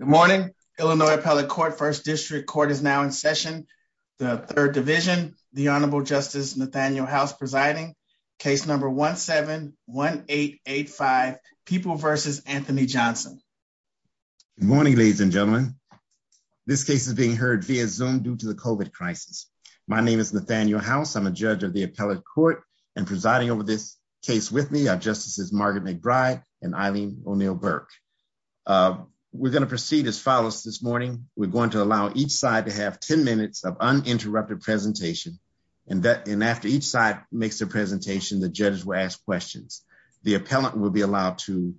Good morning, Illinois Appellate Court, 1st District Court is now in session. The 3rd Division, the Honorable Justice Nathaniel House presiding. Case number 1-7-1885, People v. Anthony Johnson. Good morning, ladies and gentlemen. This case is being heard via Zoom due to the COVID crisis. My name is Nathaniel House. I'm a judge of the Appellate Court and presiding over this case with me are Justices Margaret McBride and Eileen O'Neill Burke. We're going to proceed as follows this morning. We're going to allow each side to have 10 minutes of uninterrupted presentation. And after each side makes their presentation, the judge will ask questions. The appellant will be allowed to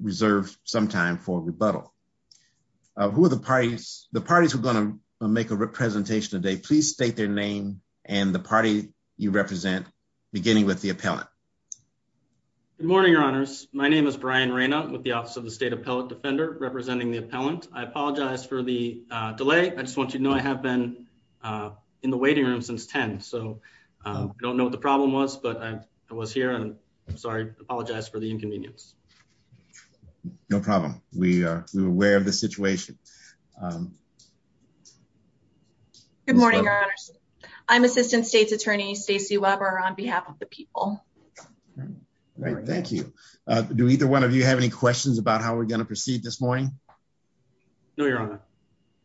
reserve some time for rebuttal. Who are the parties? The parties who are going to make a presentation today, please state their name and the party you represent, beginning with the appellant. Good morning, Your Honors. My name is Brian Reyna with the Office of the State Appellate Defender representing the appellant. I apologize for the delay. I just want you to know I have been in the waiting room since 10. So I don't know what the problem was, but I was here and I'm sorry, I apologize for the inconvenience. We are aware of the situation. Good morning, Your Honors. I'm Assistant State's Attorney Stacey Weber on behalf of the people. Great. Thank you. Do either one of you have any questions about how we're going to proceed this morning? No, Your Honor.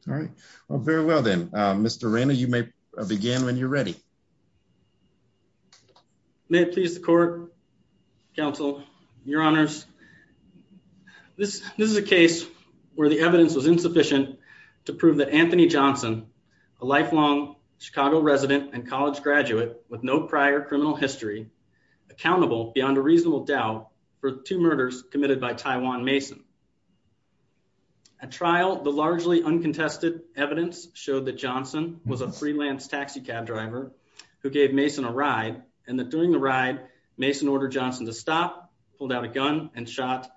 All right. Well, very well then. Mr. Reyna, you may begin when you're ready. May it please the court, counsel, Your Honors. This is a case where the evidence was insufficient to prove that Anthony Johnson, a lifelong Chicago resident and college graduate with no prior criminal history, accountable beyond a reasonable doubt for two murders committed by Tyjuan Mason. At trial, the largely uncontested evidence showed that Johnson was a freelance taxi cab driver who gave Mason a ride and that during the ride, Mason ordered Johnson to stop, pulled out a gun and shot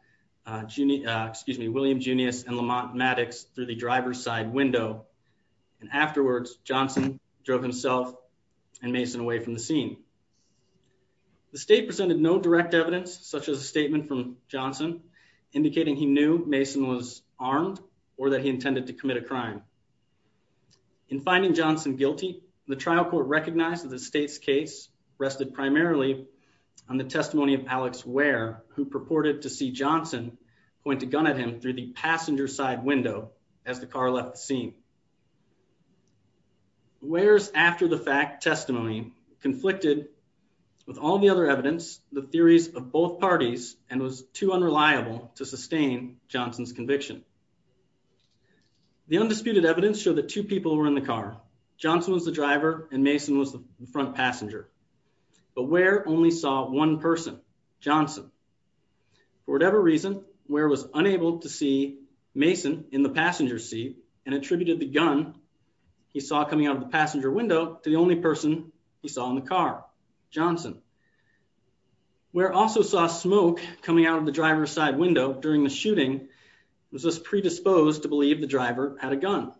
William Junius and Lamont Maddox through the driver's side window. And afterwards, Johnson drove himself and Mason away from the scene. The state presented no direct evidence, such as a statement from Johnson indicating he knew Mason was armed or that he intended to commit a crime. In finding Johnson guilty, the trial court recognized that the state's case rested primarily on the testimony of Alex Ware, who purported to see Johnson point a gun at him through the passenger side window as the car left the scene. Ware's after-the-fact testimony conflicted with all the other evidence, the theories of both parties, and was too unreliable to sustain Johnson's conviction. The undisputed evidence showed that two people were in the car. Johnson was the driver and Mason was the front passenger, but Ware only saw one person, Johnson. For whatever reason, Ware was unable to see Mason in the passenger seat and attributed the gun he saw coming out of the passenger window to the only person he saw in the car, Johnson. Ware also saw smoke coming out of the driver's side window during the shooting and was thus predisposed to believe the driver had a gun.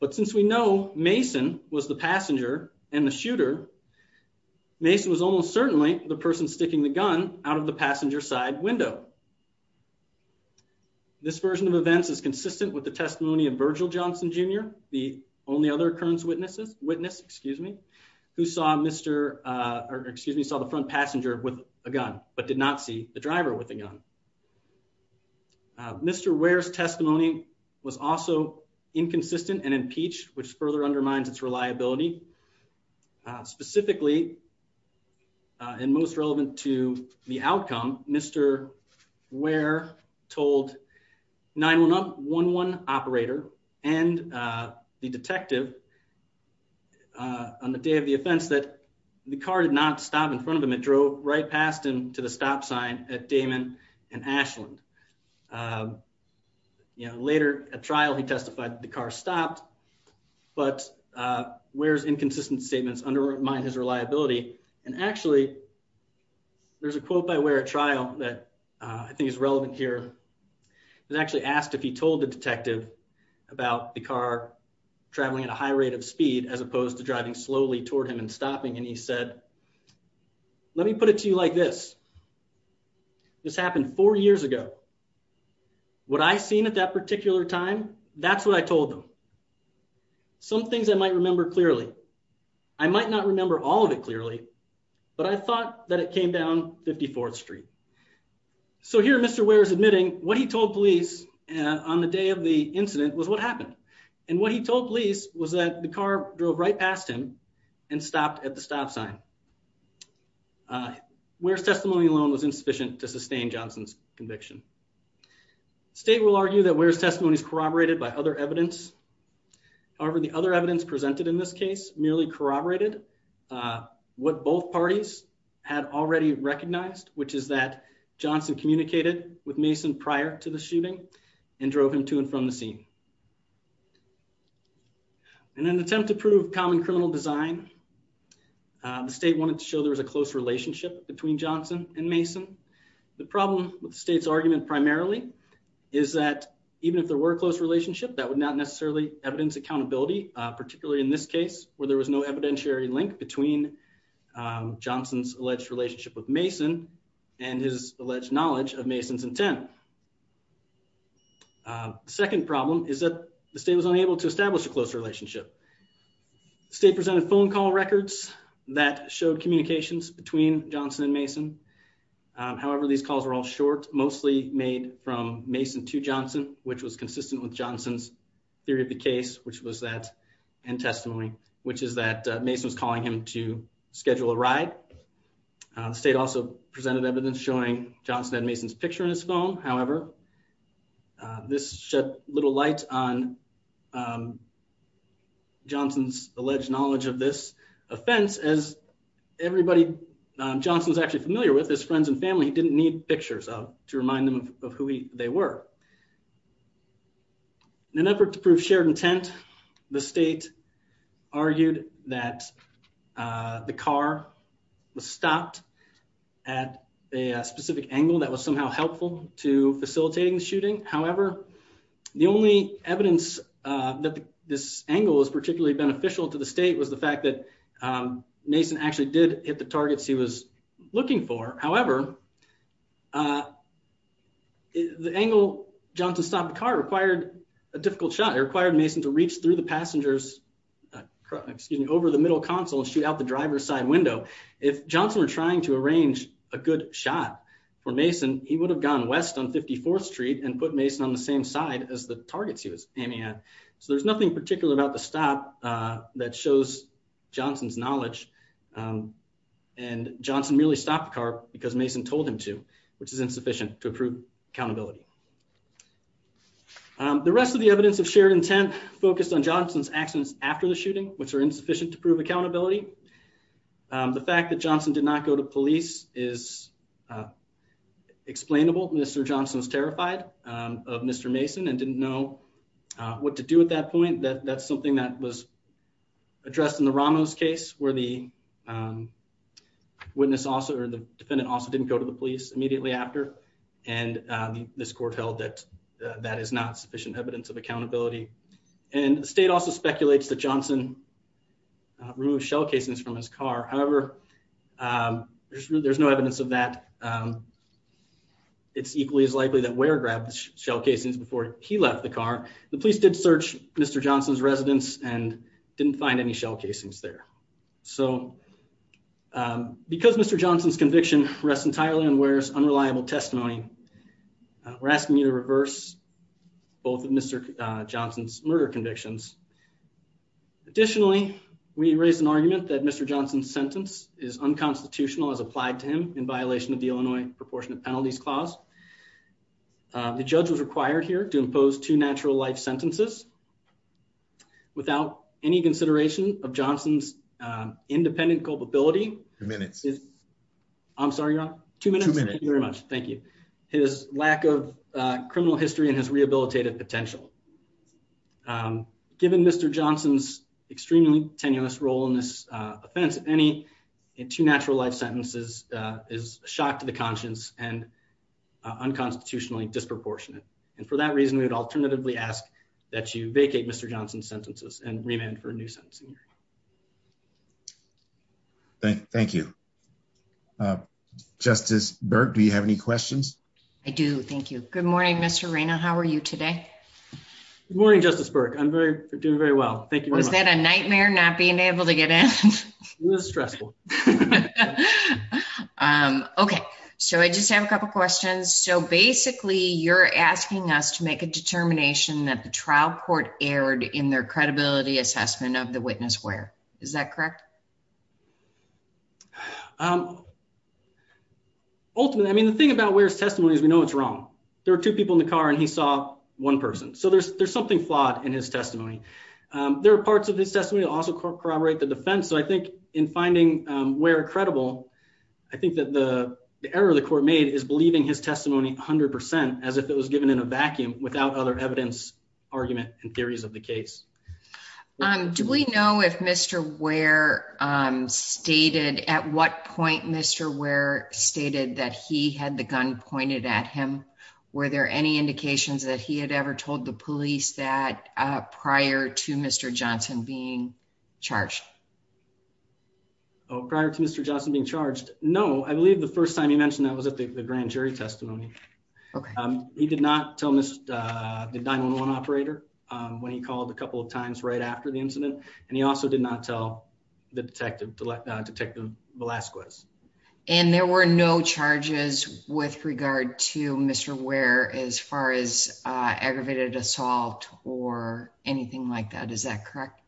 But since we know Mason was the passenger and the shooter, Mason was almost certainly the person sticking the gun out of the passenger side window. This version of events is consistent with the testimony of Virgil Johnson Jr., the only other occurrence witness, who saw the front passenger with a gun, but did not see the driver with a gun. Mr. Ware's testimony was also inconsistent and impeached, which further undermines its relevance to the outcome. Mr. Ware told 911 operator and the detective on the day of the offense that the car did not stop in front of him. It drove right past him to the stop sign at Damon and Ashland. Later at trial, he testified that the car stopped, but Ware's inconsistent statements undermine his reliability. And actually, there's a quote by Ware at trial that I think is relevant here. It actually asked if he told the detective about the car traveling at a high rate of speed as opposed to driving slowly toward him and stopping. And he said, let me put it to you like this. This happened four years ago. What I seen at that particular time, that's what I told them. Some things I might remember clearly. I might not remember all of it clearly, but I thought that it came down 54th Street. So here Mr. Ware is admitting what he told police on the day of the incident was what happened. And what he told police was that the car drove right past him and stopped at the stop sign. Ware's testimony alone was insufficient to sustain Johnson's conviction. State will argue that Ware's testimony is corroborated by other evidence. However, the other evidence presented in this case merely corroborated what both parties had already recognized, which is that Johnson communicated with Mason prior to the shooting and drove him to and from the scene. In an attempt to prove common criminal design, the state wanted to show there was a close relationship between Johnson and Mason. The problem with the state's argument primarily is that even if there were a close relationship, that would not necessarily evidence accountability, particularly in this case where there was no evidentiary link between Johnson's alleged relationship with Mason and his alleged knowledge of Mason's intent. Second problem is that the state was unable to establish a close relationship. State presented phone call records that showed communications between Johnson and Mason. However, these calls were all short, mostly made from Mason to Johnson, which was consistent with Johnson's theory of the case, which was that, and testimony, which is that Mason was calling him to schedule a ride. The state also presented evidence showing Johnson had Mason's picture in his phone. However, this shed little light on Johnson's alleged knowledge of this offense, as everybody Johnson's actually familiar with, his friends and family, he didn't need pictures to remind them of who they were. In an effort to prove shared intent, the state argued that the car was stopped at a specific angle that was somehow helpful to facilitating the shooting. However, the only evidence that this angle was particularly beneficial to the state was the fact that Mason actually did hit the targets he was looking for. However, the angle Johnson stopped the car required a difficult shot. It required Mason to reach through the passenger's, excuse me, over the middle console and shoot out the driver's side window. If Johnson were trying to arrange a good shot for Mason, he would have gone west on 54th Street and put Mason on the same side as the targets he was aiming at. So there's nothing particular about the stop that shows Johnson's knowledge, and Johnson merely stopped the car because Mason told him to, which is insufficient to prove accountability. The rest of the evidence of shared intent focused on Johnson's actions after the shooting, which are insufficient to prove accountability. The fact that Johnson did not go to police is explainable. Mr. Johnson was terrified of Mr. Mason and didn't know what to do at that point. That's something that was addressed in the Ramos case, where the witness or the defendant also didn't go to the police immediately after. And this court held that that is not sufficient evidence of accountability. And the state also speculates that Johnson removed shell casings from his car. However, there's no evidence of that. It's equally as likely that Ware grabbed the shell casings before he left the car. The police did search Mr. Johnson's residence and didn't find any shell casings there. So because Mr. Johnson's conviction rests entirely on Ware's unreliable testimony, we're asking you to reverse both of Mr. Johnson's murder convictions. Additionally, we raise an argument that Mr. Johnson's sentence is unconstitutional as applied to him in violation of the Illinois Proportionate Penalties Clause. The judge was required here to impose two natural life sentences without any consideration of Johnson's independent culpability. Two minutes. I'm sorry, Your Honor. Two minutes. Thank you very much. Thank you. His lack of criminal history and his rehabilitative potential. Given Mr. Johnson's extremely tenuous role in this offense, if any, in two natural life sentences is a shock to the conscience and unconstitutionally disproportionate. And for that reason, we would alternatively ask that you vacate Mr. Johnson's sentences and remand for a new sentence. Thank you. Justice Burke, do you have any questions? I do. Thank you. Good morning, Mr. Reyna. How are you today? Good morning, Justice Burke. I'm doing very well. Thank you. Was that a nightmare not being able to get in? It was stressful. Okay, so I just have a couple questions. So basically, you're asking us to make a determination that the trial court erred in their credibility assessment of the witness, Ware. Is that correct? Ultimately, I mean, the thing about Ware's testimony is we know it's wrong. There are two people in the car and he saw one person. So there's something flawed in his testimony. There are parts of his testimony that also corroborate the defense. So I think in finding Ware credible, I think that the error the court made is believing his testimony 100% as if it was given in a vacuum without other evidence, argument, and theories of the case. Do we know if Mr. Ware stated at what point Mr. Ware stated that he had the gun pointed at him, were there any indications that he had ever told the police that prior to Mr. Johnson being charged? Oh, prior to Mr. Johnson being charged? No, I believe the first time he mentioned that was at the grand jury testimony. Okay. He did not tell the 911 operator when he called a couple of times right after the incident. And he also did not tell the detective, Detective Velasquez. And there were no charges with regard to Mr. Ware as far as aggravated assault or anything like that. Is that correct?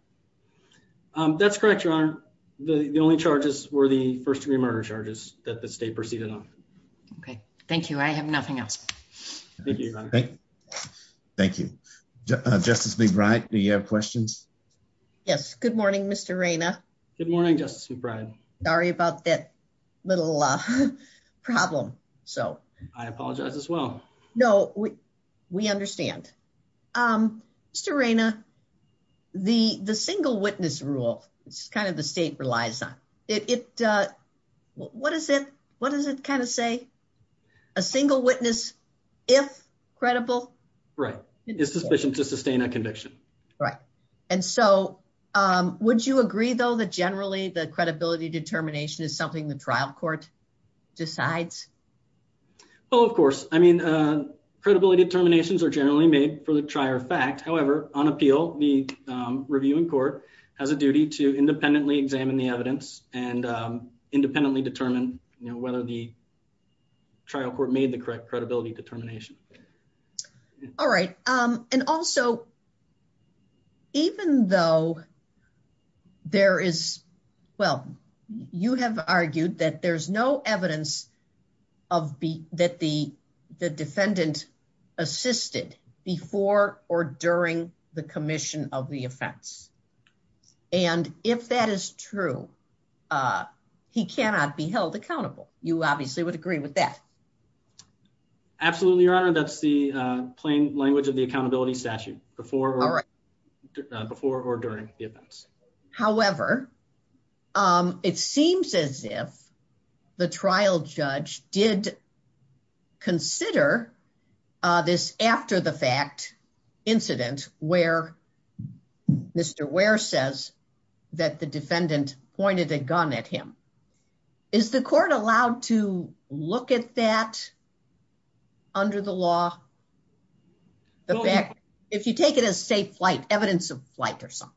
Um, that's correct, Your Honor. The only charges were the first degree murder charges that the state proceeded on. Okay. Thank you. I have nothing else. Thank you. Thank you, Justice McBride. Do you have questions? Yes. Good morning, Mr. Raina. Good morning, Justice McBride. Sorry about that little problem. So I apologize as well. No, we understand. Um, Mr. Raina, the single witness rule, it's kind of the state relies on it. It, uh, what is it? What does it kind of say? A single witness, if credible. Right. It's sufficient to sustain a conviction. Right. And so, um, would you agree though, that generally the credibility determination is something the trial court decides? Oh, of course. I mean, uh, credibility determinations are generally made for the trial fact. However, on appeal, the, um, review in court has a duty to independently examine the evidence and, um, independently determine, you know, whether the trial court made the correct credibility determination. All right. Um, and also, even though there is, well, you have argued that there's no evidence of that the defendant assisted before or during the commission of the offense. And if that is true, uh, he cannot be held accountable. You obviously would agree with that. Absolutely, Your Honor. That's the plain language of the accountability statute before or during the events. However, um, it seems as if the trial judge did consider, uh, this after the fact incident where Mr. Ware says that the defendant pointed a gun at him. Is the court allowed to look at that under the law? If you take it as safe flight, evidence of flight or something.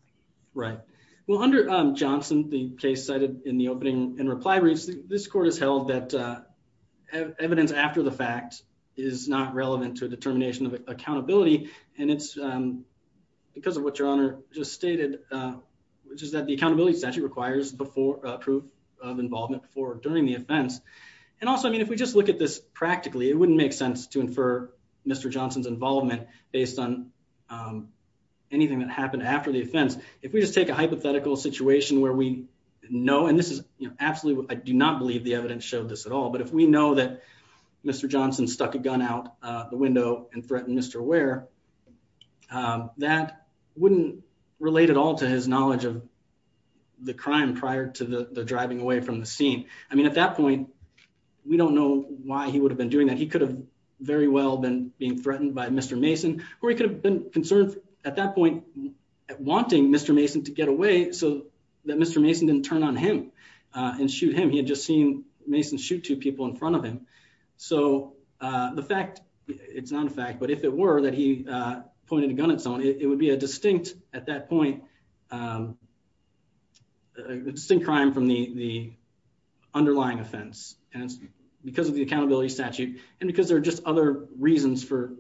Right. Well, under, um, Johnson, the case cited in the opening and reply briefs, this court has held that, uh, evidence after the fact is not relevant to a determination of accountability. And it's, um, because of what Your Honor just stated, uh, which is that the accountability statute requires before a proof of involvement for during the offense. And also, I mean, if we just look at this practically, it wouldn't make sense to infer Mr. Johnson's involvement based on, um, anything that happened after the offense. If we just take a hypothetical situation where we know, and this is absolutely, I do not believe the evidence showed this at all. But if we know that Mr. Johnson stuck a gun out the window and threatened Mr. Ware, um, that wouldn't relate at all to his knowledge of the crime prior to the driving away from the scene. I mean, at that point, we don't know why he would have been doing that. He could have very well been being threatened by Mr. Mason, or he could have been concerned at that point wanting Mr. Mason to get away so that Mr. Mason didn't turn on him, uh, and shoot him. He had just seen Mason shoot two people in front of him. So, uh, the fact it's not a fact, but if it were that he, uh, pointed a gun at someone, it would be a distinct at that point, um, a distinct crime from the underlying offense. And it's because of the accountability statute. And because there are just other reasons for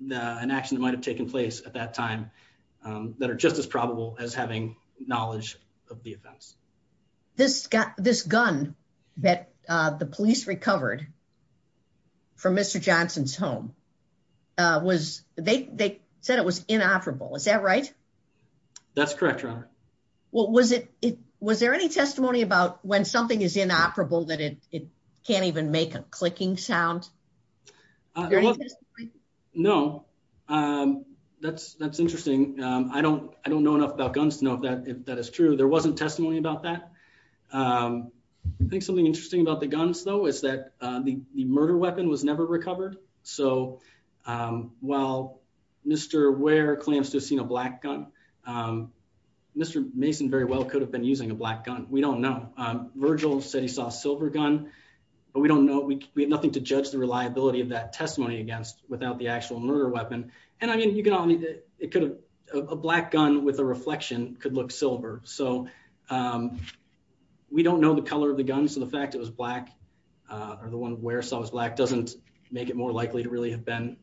the, an action that might've taken place at that time, um, that are just as probable as having knowledge of the offense. This got this gun that, uh, the police recovered from Mr. Johnson's home, uh, was they, they said it was inoperable. Is that right? That's correct, Robert. Well, was it, was there any testimony about when something is inoperable that it can't even make a clicking sound? No. Um, that's, that's interesting. Um, I don't, I don't know enough about guns to know if that, if that is true, there wasn't testimony about that. Um, I think something interesting about the guns though, is that, uh, the murder weapon was never recovered. So, um, well, Mr. Ware claims to have seen a black gun. Um, Mr. Mason very well could have been using a black gun. We don't know. Um, Virgil said he saw a silver gun, but we don't know. We, we have nothing to judge the reliability of that testimony against without the actual murder weapon. And I mean, you can only, it could have a black gun with a reflection could look silver. So, um, we don't know the color of the gun. So the fact that it was black, uh, or the one where someone's black doesn't make it more likely to really have been,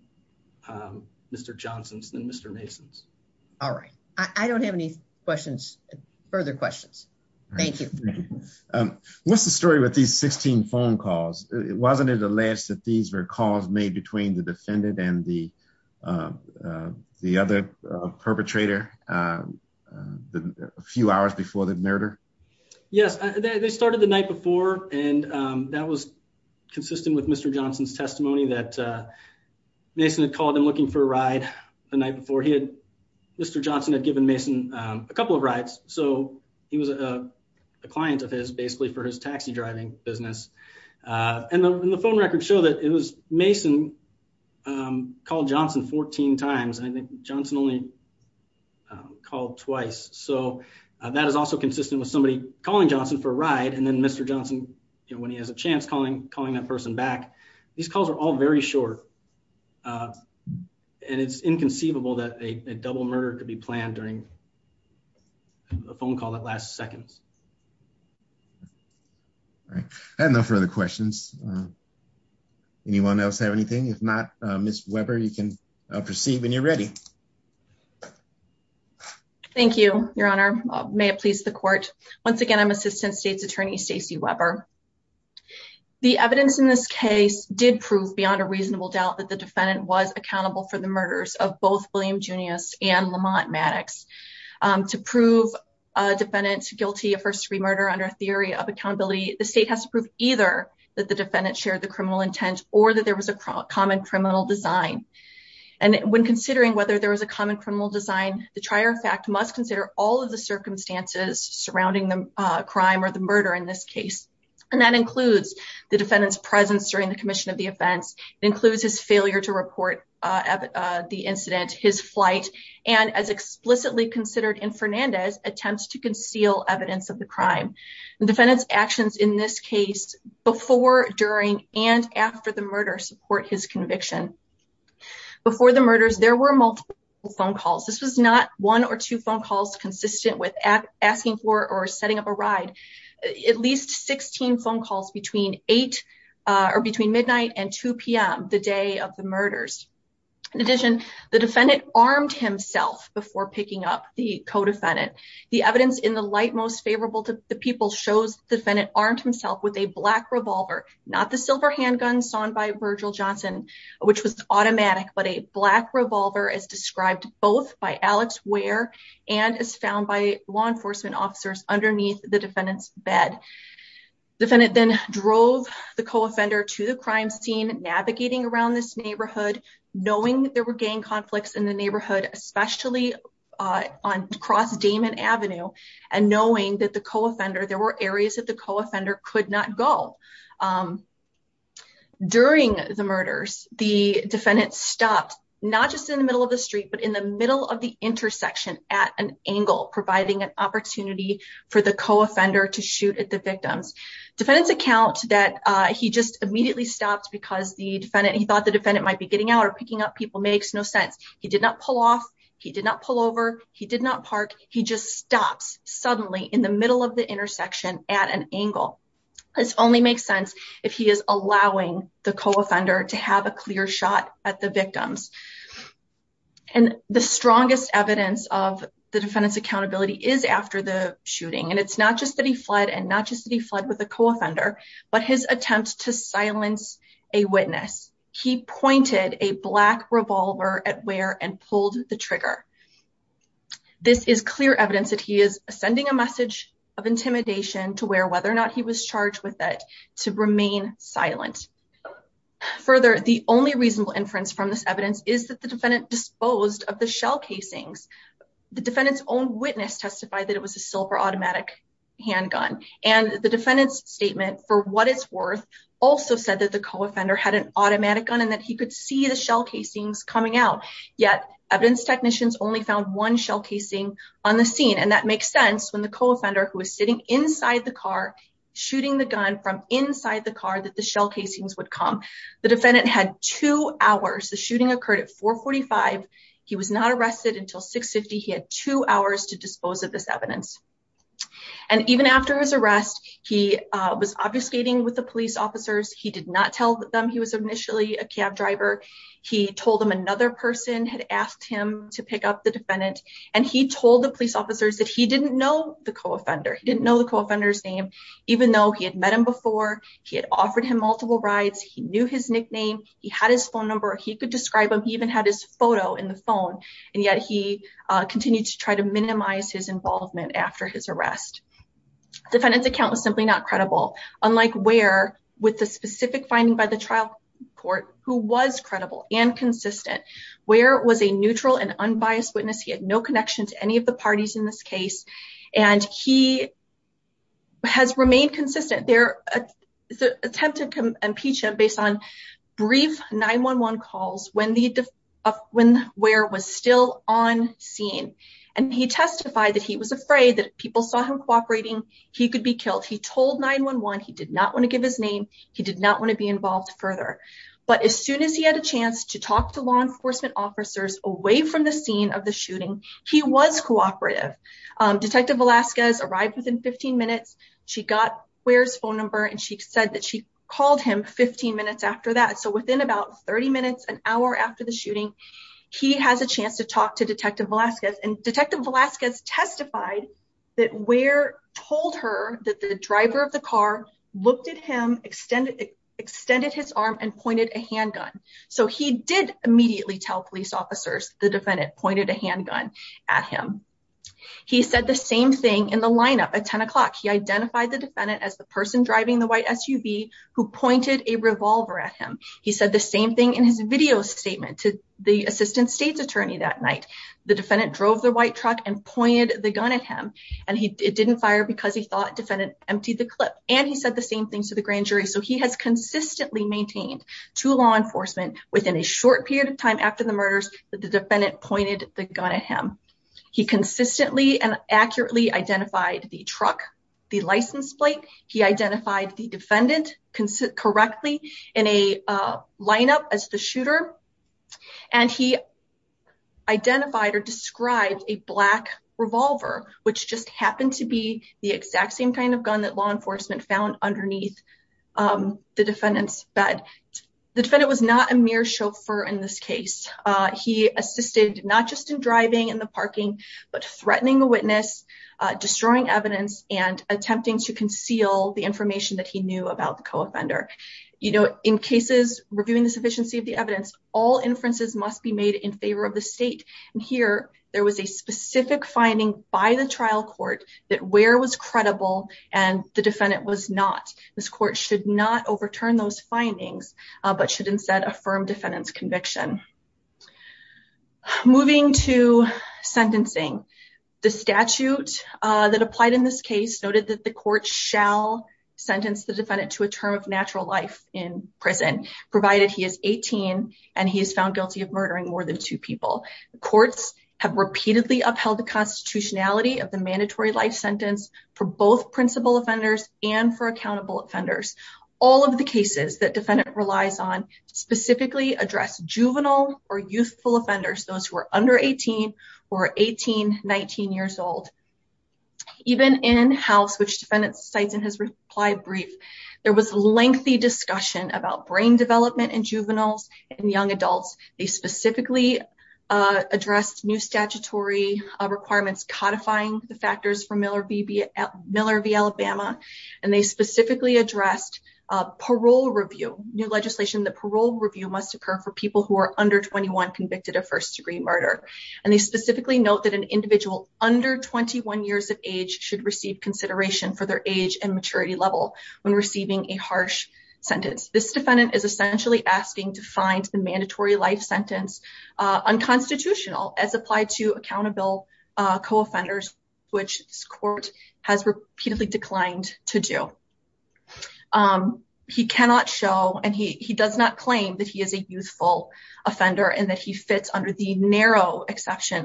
um, Mr. Johnson's than Mr. Mason's. All right. I don't have any questions, further questions. Thank you. Um, what's the story with these 16 phone calls? Wasn't it alleged that these were calls made between the defendant and the, um, uh, the other perpetrator, uh, uh, a few hours before the murder? Yes, they started the night before. And, um, that was consistent with Mr. Johnson's testimony that, uh, Mason had called him looking for a ride the night before he had, Mr. Johnson had given Mason, um, a couple of rides. So he was, uh, a client of his basically for his taxi driving business. Uh, and the, and the phone records show that it was Mason, um, called Johnson 14 times. And I think Johnson only, um, called twice. So, uh, that is also consistent with somebody calling Johnson for a ride. And then Mr. Johnson, you know, when he has a chance calling, calling that person back, these calls are all very short. Uh, and it's inconceivable that a double murder could be planned during a phone call that last seconds. All right. I have no further questions. Anyone else have anything? If not, uh, Ms. Weber, you can proceed when you're ready. Thank you, Your Honor. Uh, may it please the court. Once again, I'm assistant state's attorney, Stacey Weber. The evidence in this case did prove beyond a reasonable doubt that the defendant was accountable for the murders of both William Junius and Lamont Maddox, um, to prove a defendant guilty of first degree murder under a theory of accountability. The state has to prove either that the defendant shared the criminal intent or that there was a common criminal design. And when considering whether there was a common criminal design, the trier of fact must consider all of the circumstances surrounding the crime or the murder in this case. And that includes the defendant's presence during the commission of the offense. It includes his failure to report, uh, uh, the incident, his flight, and as explicitly considered in Fernandez attempts to conceal evidence of the crime and defendant's actions in this case before, during, and after the murder support his conviction. Before the murders, there were multiple phone calls. This was not one or two phone calls consistent with asking for, or setting up a ride. At least 16 phone calls between eight, uh, or between midnight and 2 PM the day of the murders. In addition, the defendant armed himself before picking up the co-defendant. The evidence in the light most favorable to the people shows the defendant armed himself with a black revolver, not the silver handgun sawn by Virgil Johnson, which was automatic, but a black revolver as described both by Alex Ware and is found by law enforcement officers underneath the defendant's bed. Defendant then drove the co-offender to the crime scene, navigating around this neighborhood, knowing that there were gang conflicts in the neighborhood, especially, uh, on cross and knowing that the co-offender, there were areas that the co-offender could not go. Um, during the murders, the defendant stopped not just in the middle of the street, but in the middle of the intersection at an angle, providing an opportunity for the co-offender to shoot at the victims. Defendants account that, uh, he just immediately stopped because the defendant, he thought the defendant might be getting out or picking up people. Makes no sense. He did not pull off. He did not pull over. He did not park. He just stops suddenly in the middle of the intersection at an angle. This only makes sense if he is allowing the co-offender to have a clear shot at the victims. And the strongest evidence of the defendant's accountability is after the shooting. And it's not just that he fled and not just that he fled with a co-offender, but his attempt to silence a witness. He pointed a black revolver at Ware and pulled the trigger. This is clear evidence that he is sending a message of intimidation to where, whether or not he was charged with it to remain silent. Further, the only reasonable inference from this evidence is that the defendant disposed of the shell casings. The defendant's own witness testified that it was a silver automatic handgun. And the defendant's statement for what it's worth also said that the co-offender had an automatic gun and that he could see the shell casings coming out. Yet, evidence technicians only found one shell casing on the scene. And that makes sense when the co-offender who was sitting inside the car shooting the gun from inside the car that the shell casings would come. The defendant had two hours. The shooting occurred at 445. He was not arrested until 650. He had two hours to dispose of this evidence. And even after his arrest, he was obfuscating with the police officers. He did not tell them he was initially a cab driver. He told them another person had asked him to pick up the defendant. And he told the police officers that he didn't know the co-offender. He didn't know the co-offender's name, even though he had met him before. He had offered him multiple rides. He knew his nickname. He had his phone number. He could describe him. He even had his photo in the phone. And yet, he continued to try to minimize his involvement after his arrest. Defendant's account was simply not credible. Unlike Ware, with the specific finding by the trial court, who was credible and consistent. Ware was a neutral and unbiased witness. He had no connection to any of the parties in this case. And he has remained consistent. Their attempt to impeach him based on brief 9-1-1 calls when Ware was still on scene. And he testified that he was afraid that if people saw him cooperating, he could be killed. He told 9-1-1 he did not want to give his name. He did not want to be involved further. But as soon as he had a chance to talk to law enforcement officers away from the scene of the shooting, he was cooperative. Detective Velasquez arrived within 15 minutes. She got Ware's phone number. And she said that she called him 15 minutes after that. So within about 30 minutes, an hour after the shooting, he has a chance to talk to Detective Velasquez. And Detective Velasquez testified that Ware told her that the driver of the car looked at him, extended his arm and pointed a handgun. So he did immediately tell police officers the defendant pointed a handgun at him. He said the same thing in the lineup at 10 o'clock. He identified the defendant as the person driving the white SUV who pointed a revolver at him. He said the same thing in his video statement to the assistant state's attorney that night. The defendant drove the white truck and pointed the gun at him. And it didn't fire because he thought defendant emptied the clip. And he said the same thing to the grand jury. So he has consistently maintained to law enforcement within a short period of time after the murders that the defendant pointed the gun at him. He consistently and accurately identified the truck, the license plate. He identified the defendant correctly in a lineup as the shooter. And he identified or described a black revolver, which just happened to be the exact same kind of gun that law enforcement found underneath the defendant's bed. The defendant was not a mere chauffeur in this case. He assisted not just in driving in the parking, but threatening the witness, destroying evidence, and attempting to conceal the information that he knew about the co-offender. In cases reviewing the sufficiency of the evidence, all inferences must be made in favor of the state. And here, there was a specific finding by the trial court that where was credible and the defendant was not. This court should not overturn those findings, but should instead affirm defendant's conviction. Moving to sentencing. The statute that applied in this case noted that the court shall sentence the defendant to a term of natural life in prison, provided he is 18 and he is found guilty of murdering more than two people. Courts have repeatedly upheld the constitutionality of the mandatory life sentence for both principal offenders and for accountable offenders. All of the cases that defendant relies on specifically address juvenile or youthful offenders, those who are under 18 or 18, 19 years old. Even in-house, which defendant cites in his reply brief, there was lengthy discussion about brain development in juveniles and young adults. They specifically addressed new statutory requirements codifying the factors for Miller v. Alabama. And they specifically addressed parole review, new legislation that parole review must occur for people who are under 21 convicted of first degree murder. And they specifically note that an individual under 21 years of age should receive consideration for their age and maturity level when receiving a harsh sentence. This defendant is essentially asking to find the mandatory life sentence unconstitutional as applied to accountable co-offenders, which this court has repeatedly declined to do. He cannot show and he does not claim that he is a youthful exception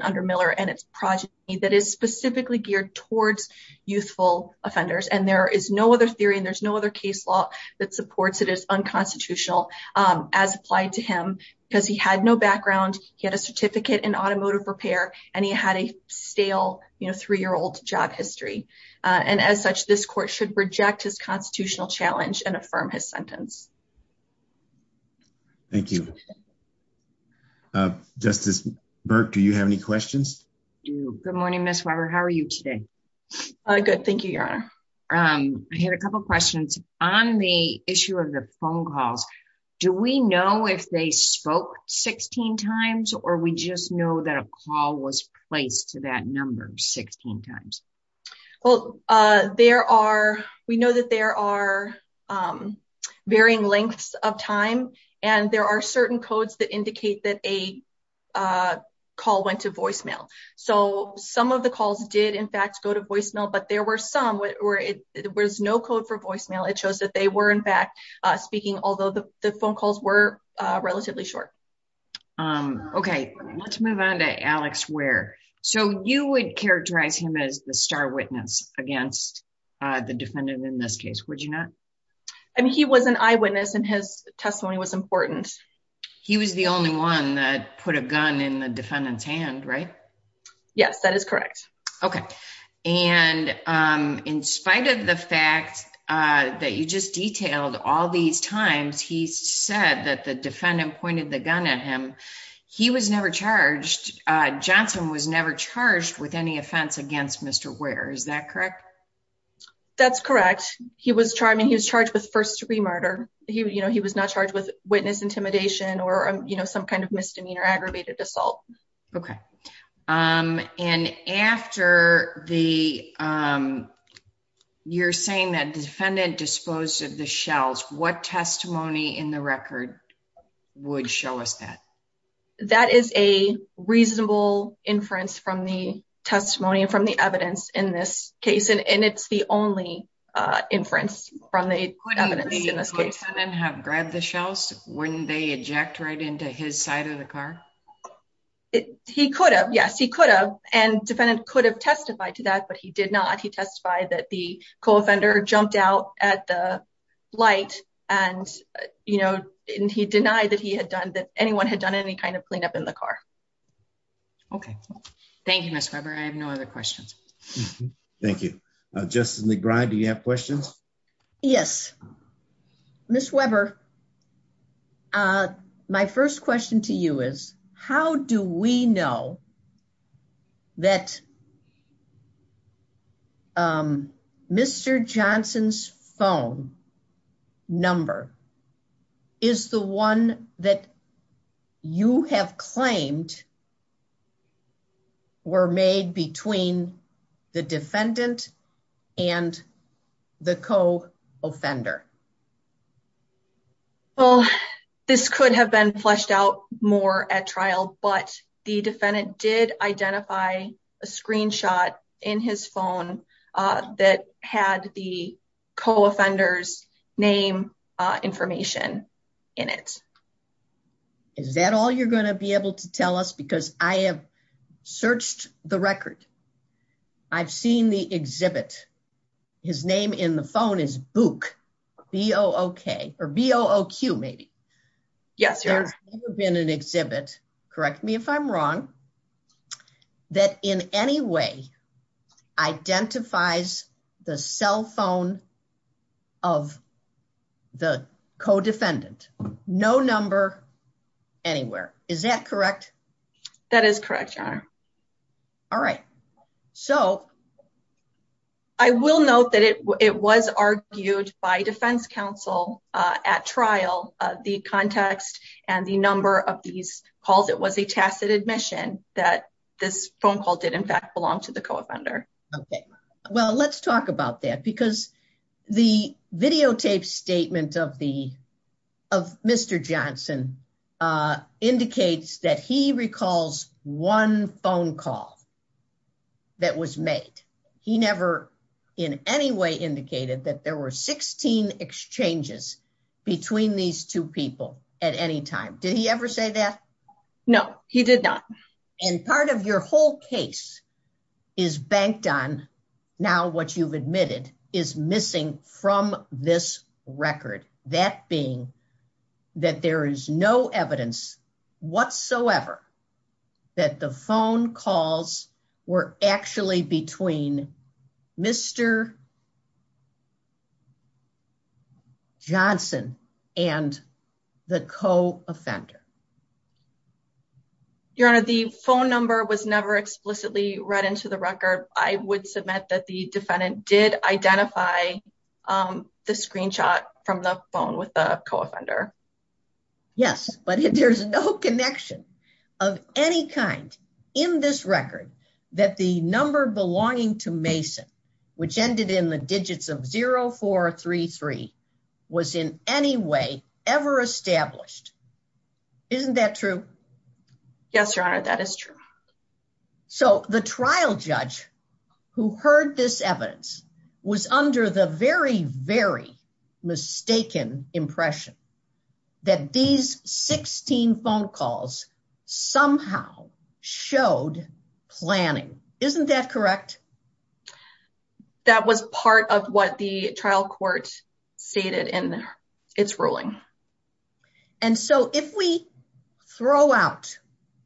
under Miller and its project that is specifically geared towards youthful offenders. And there is no other theory and there's no other case law that supports it as unconstitutional as applied to him because he had no background. He had a certificate in automotive repair and he had a stale three-year-old job history. And as such, this court should reject his constitutional challenge and affirm his sentence. Thank you. Justice Burke, do you have any questions? I do. Good morning, Ms. Weber. How are you today? Good. Thank you, Your Honor. I had a couple of questions on the issue of the phone calls. Do we know if they spoke 16 times or we just know that a call was placed to that number 16 times? Well, we know that there are varying lengths of time and there are certain codes that indicate that a call went to voicemail. So some of the calls did in fact go to voicemail, but there were some where there was no code for voicemail. It shows that they were in fact speaking, although the phone calls were relatively short. Um, okay. Let's move on to Alex Ware. So you would characterize him as the star witness against the defendant in this case, would you not? I mean, he was an eyewitness and his testimony was important. He was the only one that put a gun in the defendant's hand, right? Yes, that is correct. Okay. And in spite of the fact that you just detailed all these times, he said that the defendant pointed the gun at him. He was never charged. Johnson was never charged with any offense against Mr. Ware. Is that correct? That's correct. He was charged, I mean, he was charged with first degree murder. He, you know, he was not charged with witness intimidation or, you know, some kind of misdemeanor aggravated assault. Okay. Um, and after the, um, you're saying that the defendant disposed of the shells, what testimony in the record would show us that? That is a reasonable inference from the testimony and from the evidence in this case. And it's the only, uh, inference from the evidence in this case. Couldn't the lieutenant have grabbed the shells when they eject right into his side of the car? He could have. Yes, he could have. And defendant could have testified to that, but he did not. He testified that the co-offender jumped out at the light and, you know, he denied that he had done that anyone had done any kind of cleanup in the car. Okay. Thank you, Ms. Weber. I have no other questions. Thank you. Uh, Justice McBride, do you have questions? Yes. Ms. Weber, uh, my first question to you is how do we know that um, Mr. Johnson's phone number is the one that you have claimed were made between the defendant and the co-offender? Well, this could have been fleshed out more at trial, but the defendant did identify a screenshot in his phone, uh, that had the co-offender's name, uh, information in it. Is that all you're going to be able to tell us? Because I have searched the record. I've seen the exhibit. His name in the phone is Book, B-O-O-K or B-O-O-Q maybe. Yes. There's never been an exhibit, correct me if I'm wrong, that in any way identifies the cell phone of the co-defendant. No number anywhere. Is that correct? That is correct, Your Honor. All right. So I will note that it, it was argued by defense counsel, uh, at trial, the context and the number of these calls, it was a tacit admission that this phone call did in fact belong to the co-offender. Okay. Well, let's talk about that because the videotape statement of the, of Mr. Johnson, uh, indicates that he recalls one phone call that was made. He never in any way indicated that there were 16 exchanges between these two people at any time. Did he ever say that? No, he did not. And part of your whole case is banked on now what you've admitted is missing from this record. That being that there is no evidence whatsoever that the phone calls were actually between Mr. Johnson and the co-offender. Your Honor, the phone number was never explicitly read into the record. I would submit that the defendant did identify, um, the screenshot from the phone with the co-offender. Yes, but there's no connection of any kind in this record that the number belonging to Mason, which ended in the digits of 0433, was in any way ever established. Isn't that true? Yes, Your Honor, that is true. So the trial judge who heard this evidence was under the very, very mistaken impression that these 16 phone calls somehow showed planning. Isn't that correct? That was part of what the trial court stated in its ruling. And so if we throw out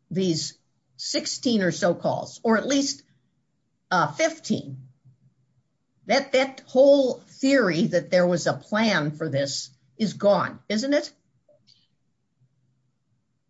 these 16 or so calls, or at least 15, that whole theory that there was a plan for this is gone, isn't it?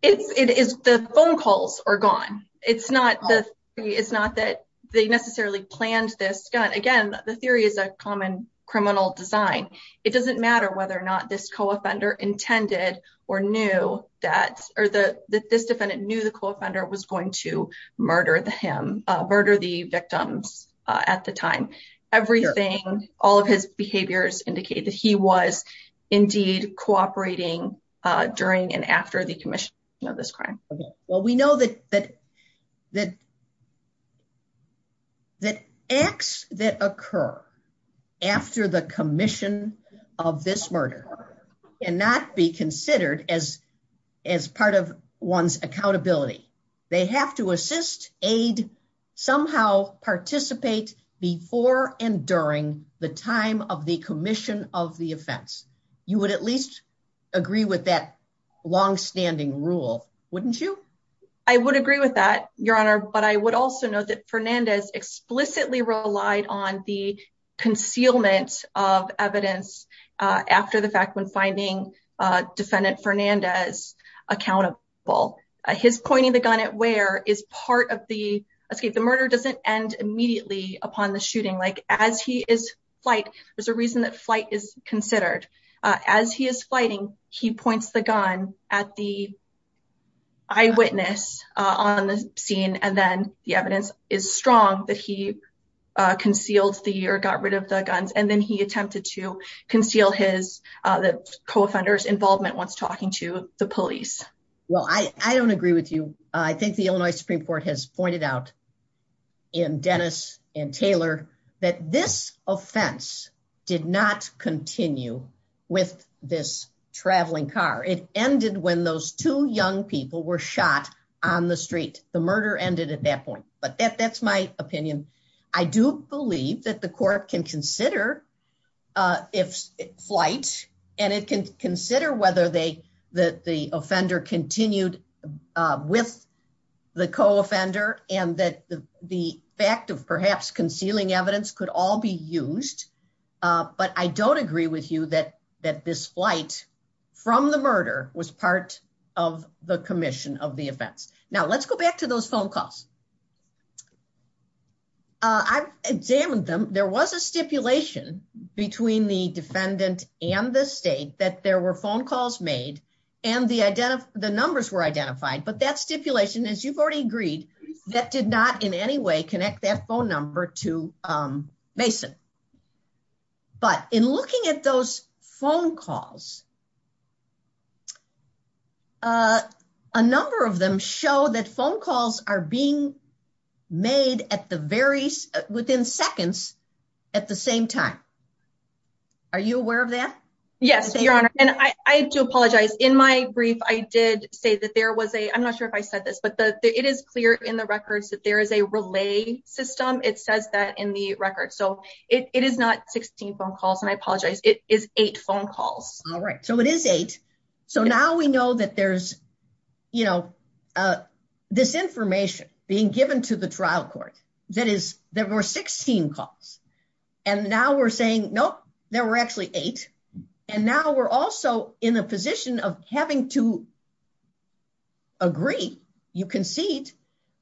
It is the phone calls are gone. It's not that they necessarily planned this. Again, the theory is a common criminal design. It doesn't matter whether or not this co-offender intended or knew that, or that this defendant knew the co-offender was going to murder him, murder the victims at the time. Everything, all of his behaviors indicate that he was indeed cooperating during and after the commission of this crime. Well, we know that acts that occur after the commission of this murder cannot be considered as part of one's accountability. They have to assist, aid, somehow participate before and during the time of the commission of the offense. You would at least agree with that longstanding rule, wouldn't you? I would agree with that, Your Honor. But I would also note that Fernandez explicitly relied on the concealment of evidence after the fact when finding defendant Fernandez accountable. His pointing the gun at Ware is part of the escape. The murder doesn't end immediately upon the shooting. There's a reason that flight is considered. As he is fighting, he points the gun at the eyewitness on the scene, and then the evidence is strong that he concealed the, or got rid of the guns. And then he attempted to conceal the co-offender's involvement once talking to the police. Well, I don't agree with you. I think the Taylor that this offense did not continue with this traveling car. It ended when those two young people were shot on the street. The murder ended at that point, but that's my opinion. I do believe that the court can consider if flight, and it can consider whether they, that the offender continued with the co-offender and that the fact of perhaps concealing evidence could all be used. But I don't agree with you that this flight from the murder was part of the commission of the offense. Now let's go back to those phone calls. I've examined them. There was a stipulation between the defendant and the state that there were phone calls made and the numbers were identified, but that stipulation, as you've already agreed, that did not in any way connect that phone number to Mason. But in looking at those phone calls, a number of them show that phone calls are being made at the very, within seconds at the same time. Are you aware of that? Yes, your honor. And I do apologize in my brief. I did say that there was a, I'm not sure if I said this, but the, it is clear in the records that there is a relay system. It says that in the record. So it is not 16 phone calls and I apologize. It is eight phone calls. All right. So it is eight. So now we know that there's, you know, uh, this information being given to the trial court that is there were 16 calls and now we're saying, Nope, there were eight. And now we're also in a position of having to agree. You concede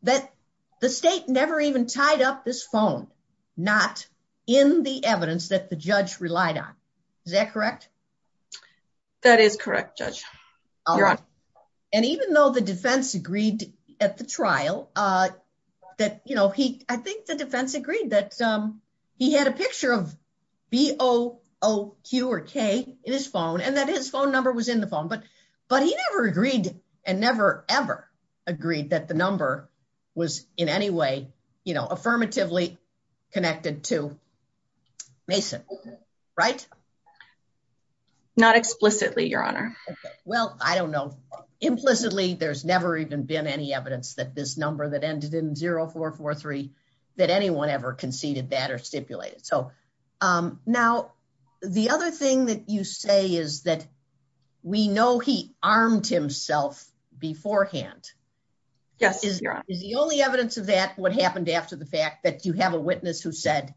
that the state never even tied up this phone, not in the evidence that the judge relied on. Is that correct? That is correct. Judge. And even though the defense agreed at the trial, uh, that, you know, he, I think the defense agreed that, um, he had a picture of B O O Q or K in his phone and that his phone number was in the phone, but, but he never agreed and never ever agreed that the number was in any way, you know, affirmatively connected to Mason, right? Not explicitly your honor. Well, I don't know. Implicitly there's never even been any evidence that this number that ended in zero four, four, three, that anyone ever conceded that are stipulated. So, um, now the other thing that you say is that we know he armed himself beforehand. Yes. Is the only evidence of that? What happened after the fact that you have a witness who said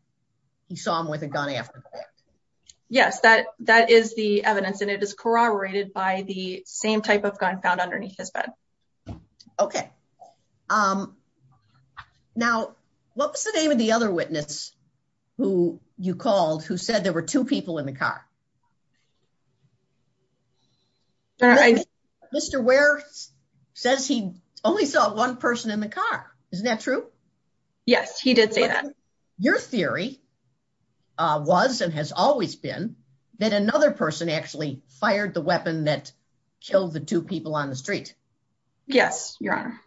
he saw him with a gun after? Yes, that, that is the evidence and it is corroborated by the same type of gun found underneath his bed. Okay. Um, now what was the name of the other witness who you called, who said there were two people in the car? Mr. Ware says he only saw one person in the car. Isn't that true? Yes, he did say that. Your theory, uh, was, and has always been that another person actually fired the weapon that killed the two people on the street. Yes, your honor.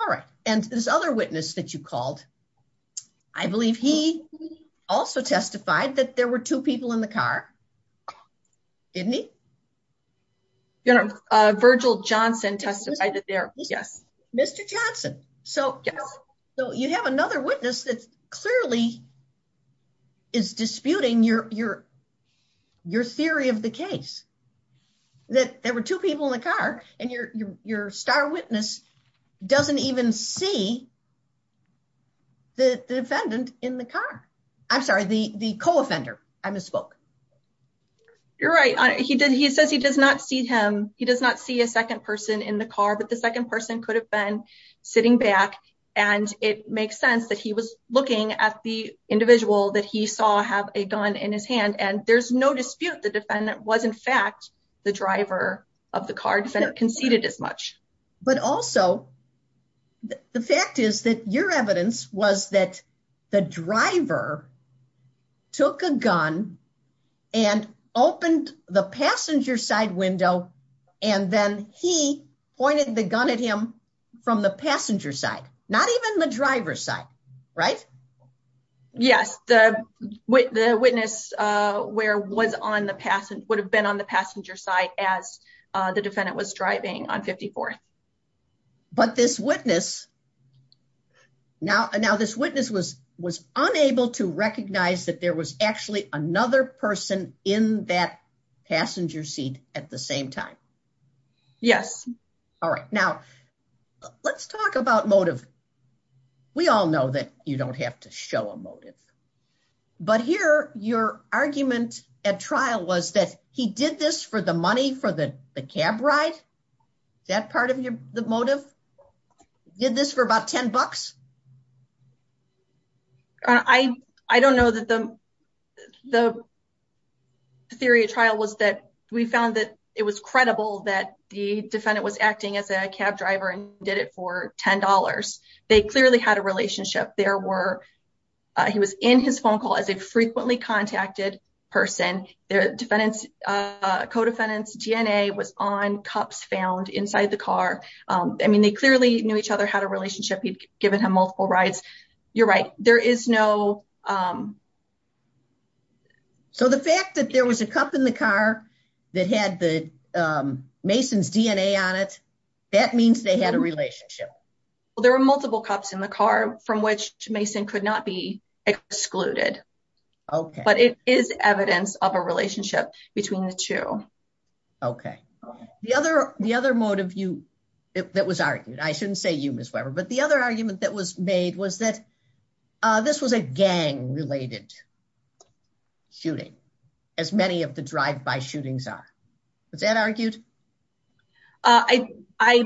All right. And this other witness that you called, I believe he also testified that there were two people in the car. Didn't he? You know, uh, Virgil Johnson testified that there. Yes. Mr. Johnson. So, so you have another witness that clearly is disputing your, your, your theory of the case that there were two people in the car and your, your, your star witness doesn't even see the defendant in the car. I'm sorry. The, the co-offender I misspoke. You're right. He did. He says he does not see him. He does not see a second person in the car, the second person could have been sitting back and it makes sense that he was looking at the individual that he saw have a gun in his hand. And there's no dispute. The defendant was in fact, the driver of the car defendant conceded as much. But also the fact is that your evidence was that the driver took a gun and opened the passenger side window. And then he pointed the gun at him from the passenger side, not even the driver's side, right? Yes. The witness, uh, where was on the past and would have been on the passenger side as, uh, the defendant was driving on 54th. But this witness now, now this witness was, was unable to recognize that there was actually another person in that passenger seat at the same time. Yes. All right. Now let's talk about motive. We all know that you don't have to show a motive, but here your argument at trial was that he did this for the money for the cab ride. That part of your motive did this for about 10 bucks. I, I don't know that the, the theory of trial was that we found that it was credible that the defendant was acting as a cab driver and did it for $10. They clearly had a relationship. There were, uh, he was in his phone call as a frequently contacted person. Their defendants, uh, co-defendants DNA was on cups found inside the car. Um, I mean, they clearly knew each other, had a relationship. He'd given him multiple rides. You're right. There is no, um, so the fact that there was a cup in the car that had the, um, Mason's DNA on it, that means they had a relationship. Well, there were multiple cops in the car from which Mason could not be excluded, but it is evidence of a relationship between the two. Okay. The other, the other motive you, that was argued, I shouldn't say you miss Weber, but the other argument that was made was that, uh, this was a gang related shooting as many of the drive-by shootings are. Was that argued? Uh, I, I,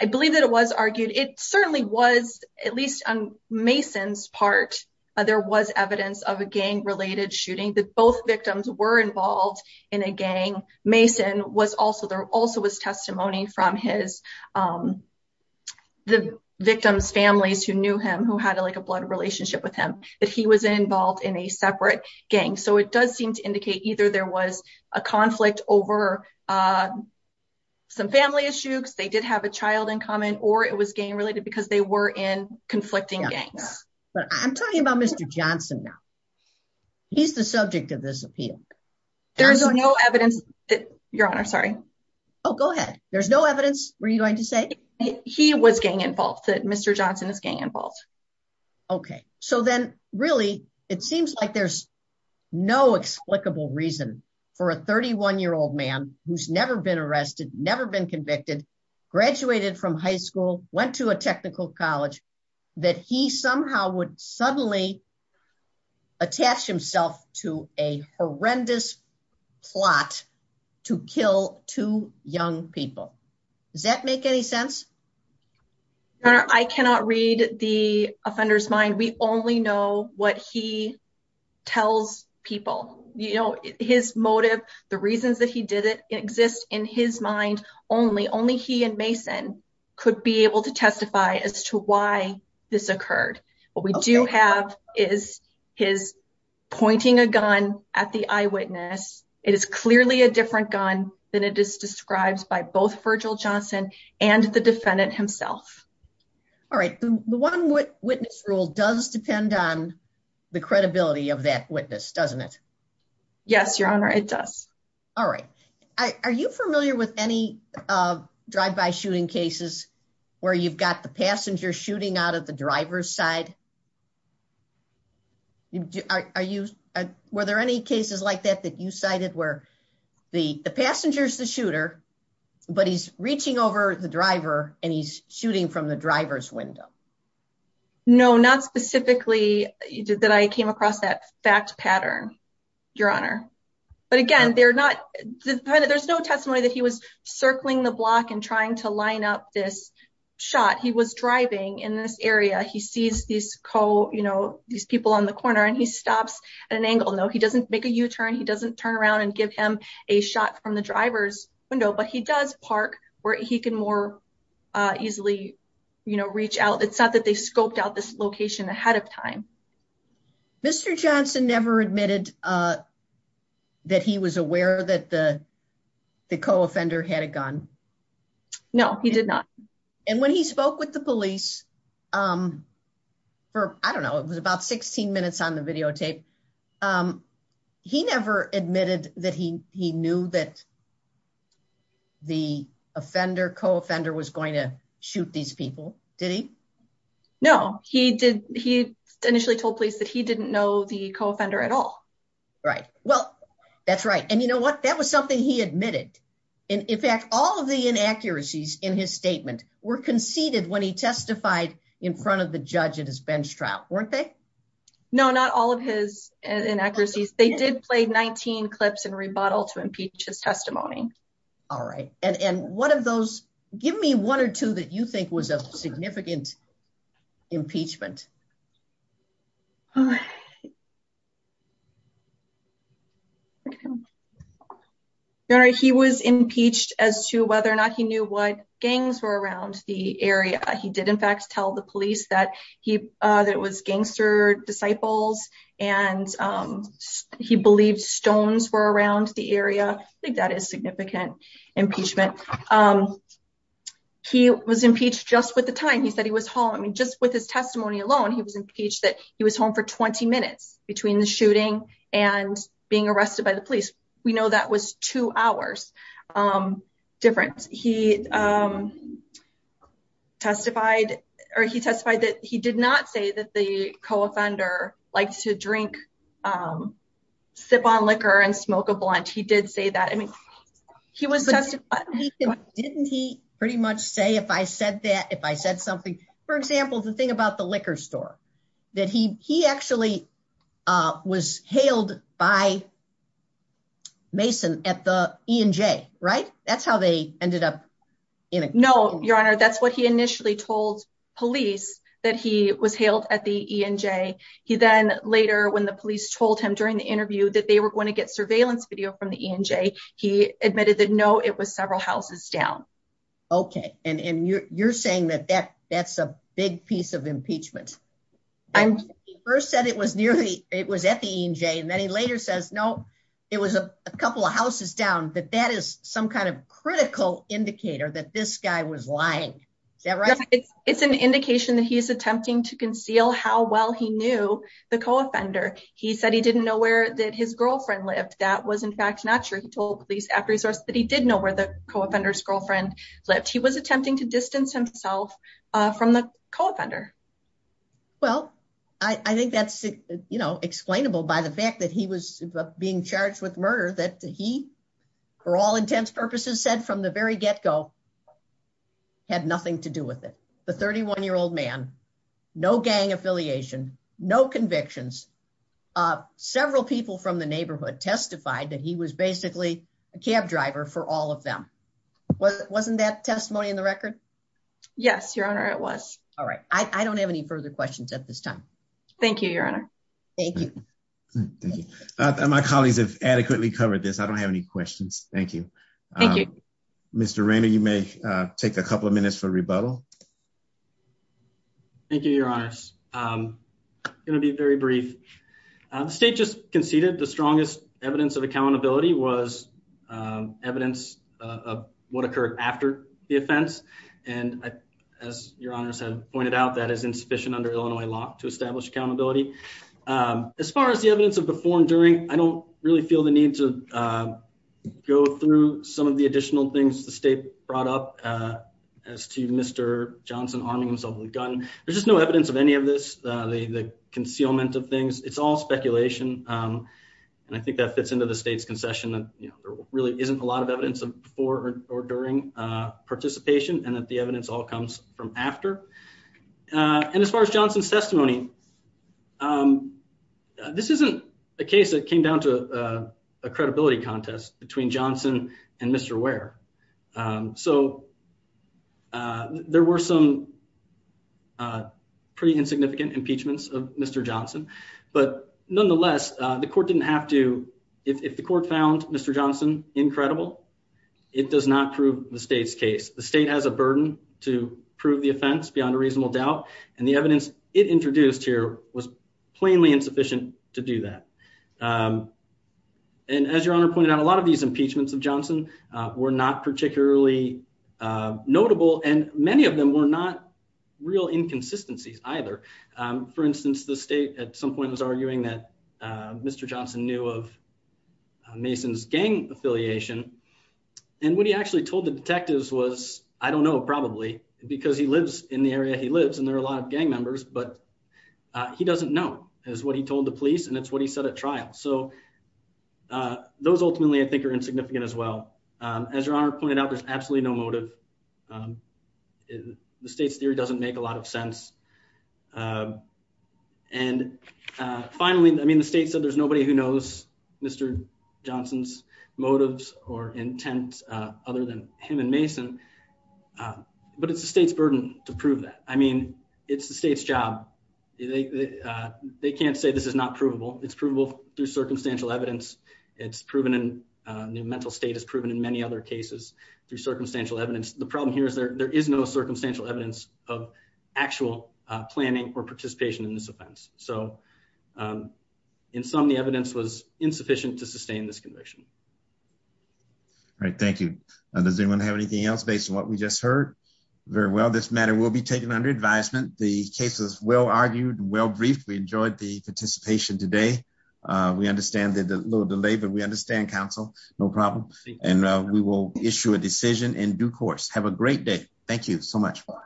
I believe that it was argued. It certainly was at least on Mason's part, uh, there was evidence of a gang related shooting that both victims were involved in a gang. Mason was also, there also was testimony from his, um, the victim's families who knew him, who had like a blood relationship with him, that he was involved in a separate gang. So it does seem to indicate either there was a conflict over, uh, some family issues. They did have a child in common or it was gang related because they were in conflicting gangs. But I'm talking about Mr. Johnson. Now he's the subject of this appeal. There's no evidence that your honor, sorry. Oh, go ahead. There's no evidence. Were you involved? Okay. So then really it seems like there's no explicable reason for a 31 year old man. Who's never been arrested, never been convicted, graduated from high school, went to a technical college that he somehow would suddenly attach himself to a horrendous plot to kill two young people. Does that make any sense? I cannot read the offender's mind. We only know what he tells people, you know, his motive, the reasons that he did it exist in his mind. Only, only he and Mason could be able to testify as to why this occurred. What we do have is his pointing a gun at the eyewitness. It is clearly a different gun than it is described by both Virgil Johnson and the defendant himself. All right. The one witness rule does depend on the credibility of that witness, doesn't it? Yes, your honor. It does. All right. Are you familiar with any, uh, drive-by shooting cases where you've got the passenger shooting out of the driver's side? Are you, were there any cases like that, that you cited where the passenger's the shooter, but he's reaching over the driver and he's shooting from the driver's window? No, not specifically that I came across that fact pattern, your honor. But again, they're not, there's no testimony that he was circling the block and trying to line up this was driving in this area. He sees these co, you know, these people on the corner and he stops at an angle. No, he doesn't make a U-turn. He doesn't turn around and give him a shot from the driver's window, but he does park where he can more, uh, easily, you know, reach out. It's not that they scoped out this location ahead of time. Mr. Johnson never admitted, uh, that he was aware that the, the co-offender had a gun. No, he did not. And when he spoke with the police, um, for, I don't know, it was about 16 minutes on the videotape. Um, he never admitted that he, he knew that the offender co-offender was going to shoot these people. Did he? No, he did. He initially told police that he didn't know the co-offender at all. Right. Well, that's right. And you know what? That was something he admitted. And in fact, all of the inaccuracies in his statement were conceded when he testified in front of the judge at his bench trial, weren't they? No, not all of his inaccuracies. They did play 19 clips and rebuttal to impeach his testimony. All right. And, and one of those, give me one or two that you think was a significant impeachment. Okay. All right. He was impeached as to whether or not he knew what gangs were around the area. He did in fact tell the police that he, uh, that it was gangster disciples and, um, he believed stones were around the area. I think that is significant impeachment. Um, he was impeached just with the time he said he was home. I mean, just with his testimony alone, he was impeached that he was home for 20 minutes between the shooting and being arrested by the police. We know that was two hours, um, difference. He, um, testified or he testified that he did not say that the co-offender likes to drink, um, sip on liquor and smoke a blunt. He did say that. I mean, he was tested. Didn't he pretty much say, if I said that, if I said something, for example, the thing about the liquor store that he, he actually, uh, was hailed by Mason at the ENJ, right? That's how they ended up. No, your honor. That's what he initially told police that he was hailed at the ENJ. He then later when the police told him during the interview that they were going to get surveillance video from the ENJ, he admitted that no, was several houses down. Okay. And you're saying that that that's a big piece of impeachment. I first said it was nearly, it was at the ENJ. And then he later says, no, it was a couple of houses down that that is some kind of critical indicator that this guy was lying. Is that right? It's an indication that he's attempting to conceal how well he knew the co-offender. He said he didn't know where that his girlfriend lived. That was in fact, not sure. That he did know where the co-offender's girlfriend lived. He was attempting to distance himself, uh, from the co-offender. Well, I think that's, you know, explainable by the fact that he was being charged with murder that he for all intents purposes said from the very get-go had nothing to do with it. The 31 year old man, no gang affiliation, no convictions, uh, several people from the neighborhood testified that he was basically a cab driver for all of them. Wasn't that testimony in the record? Yes, your honor. It was. All right. I don't have any further questions at this time. Thank you, your honor. Thank you. Thank you. My colleagues have adequately covered this. I don't have any questions. Thank you. Thank you, Mr. Rainer. You may take a couple of minutes for rebuttal. Thank you, your honors. I'm going to be very brief. The state just conceded the strongest evidence of accountability was evidence of what occurred after the offense. And as your honors have pointed out, that is insufficient under Illinois law to establish accountability. As far as the evidence of before and during, I don't really feel the need to go through some of the additional things the state brought up as to Mr. Johnson arming himself with a gun. There's just no evidence of any of this. The concealment of things, it's all speculation. And I think that fits into the state's concession that there really isn't a lot of evidence of before or during participation and that the evidence all comes from after. And as far as Johnson's testimony, this isn't a case that came down to a credibility contest between Johnson and Mr. Ware. So there were some pretty insignificant impeachments of Mr. Johnson. But nonetheless, the court didn't have to. If the court found Mr. Johnson incredible, it does not prove the state's case. The state has a burden to prove the offense beyond a reasonable doubt. And the evidence it introduced here was plainly insufficient to do that. And as your honor pointed out, a lot of these impeachments of Johnson were not particularly notable. And many of them were not real inconsistencies either. For instance, the state at some point was arguing that Mr. Johnson knew of Mason's gang affiliation. And what he actually told the detectives was, I don't know, probably because he lives in the area he lives and there are a lot of gang members, but he doesn't know is what he told the police. It's what he said at trial. So those ultimately I think are insignificant as well. As your honor pointed out, there's absolutely no motive. The state's theory doesn't make a lot of sense. And finally, I mean, the state said there's nobody who knows Mr. Johnson's motives or intent other than him and Mason. But it's the state's burden to prove that. I mean, it's the state's burden to prove that. And this is not provable. It's provable through circumstantial evidence. It's proven in mental state. It's proven in many other cases through circumstantial evidence. The problem here is there is no circumstantial evidence of actual planning or participation in this offense. So in some, the evidence was insufficient to sustain this conviction. All right. Thank you. Does anyone have anything else based on what we just heard? Very well. This matter will be taken under advisement. The case is well argued, well briefed. We enjoyed the participation today. We understand that there's a little delay, but we understand counsel. No problem. And we will issue a decision in due course. Have a great day. Thank you so much.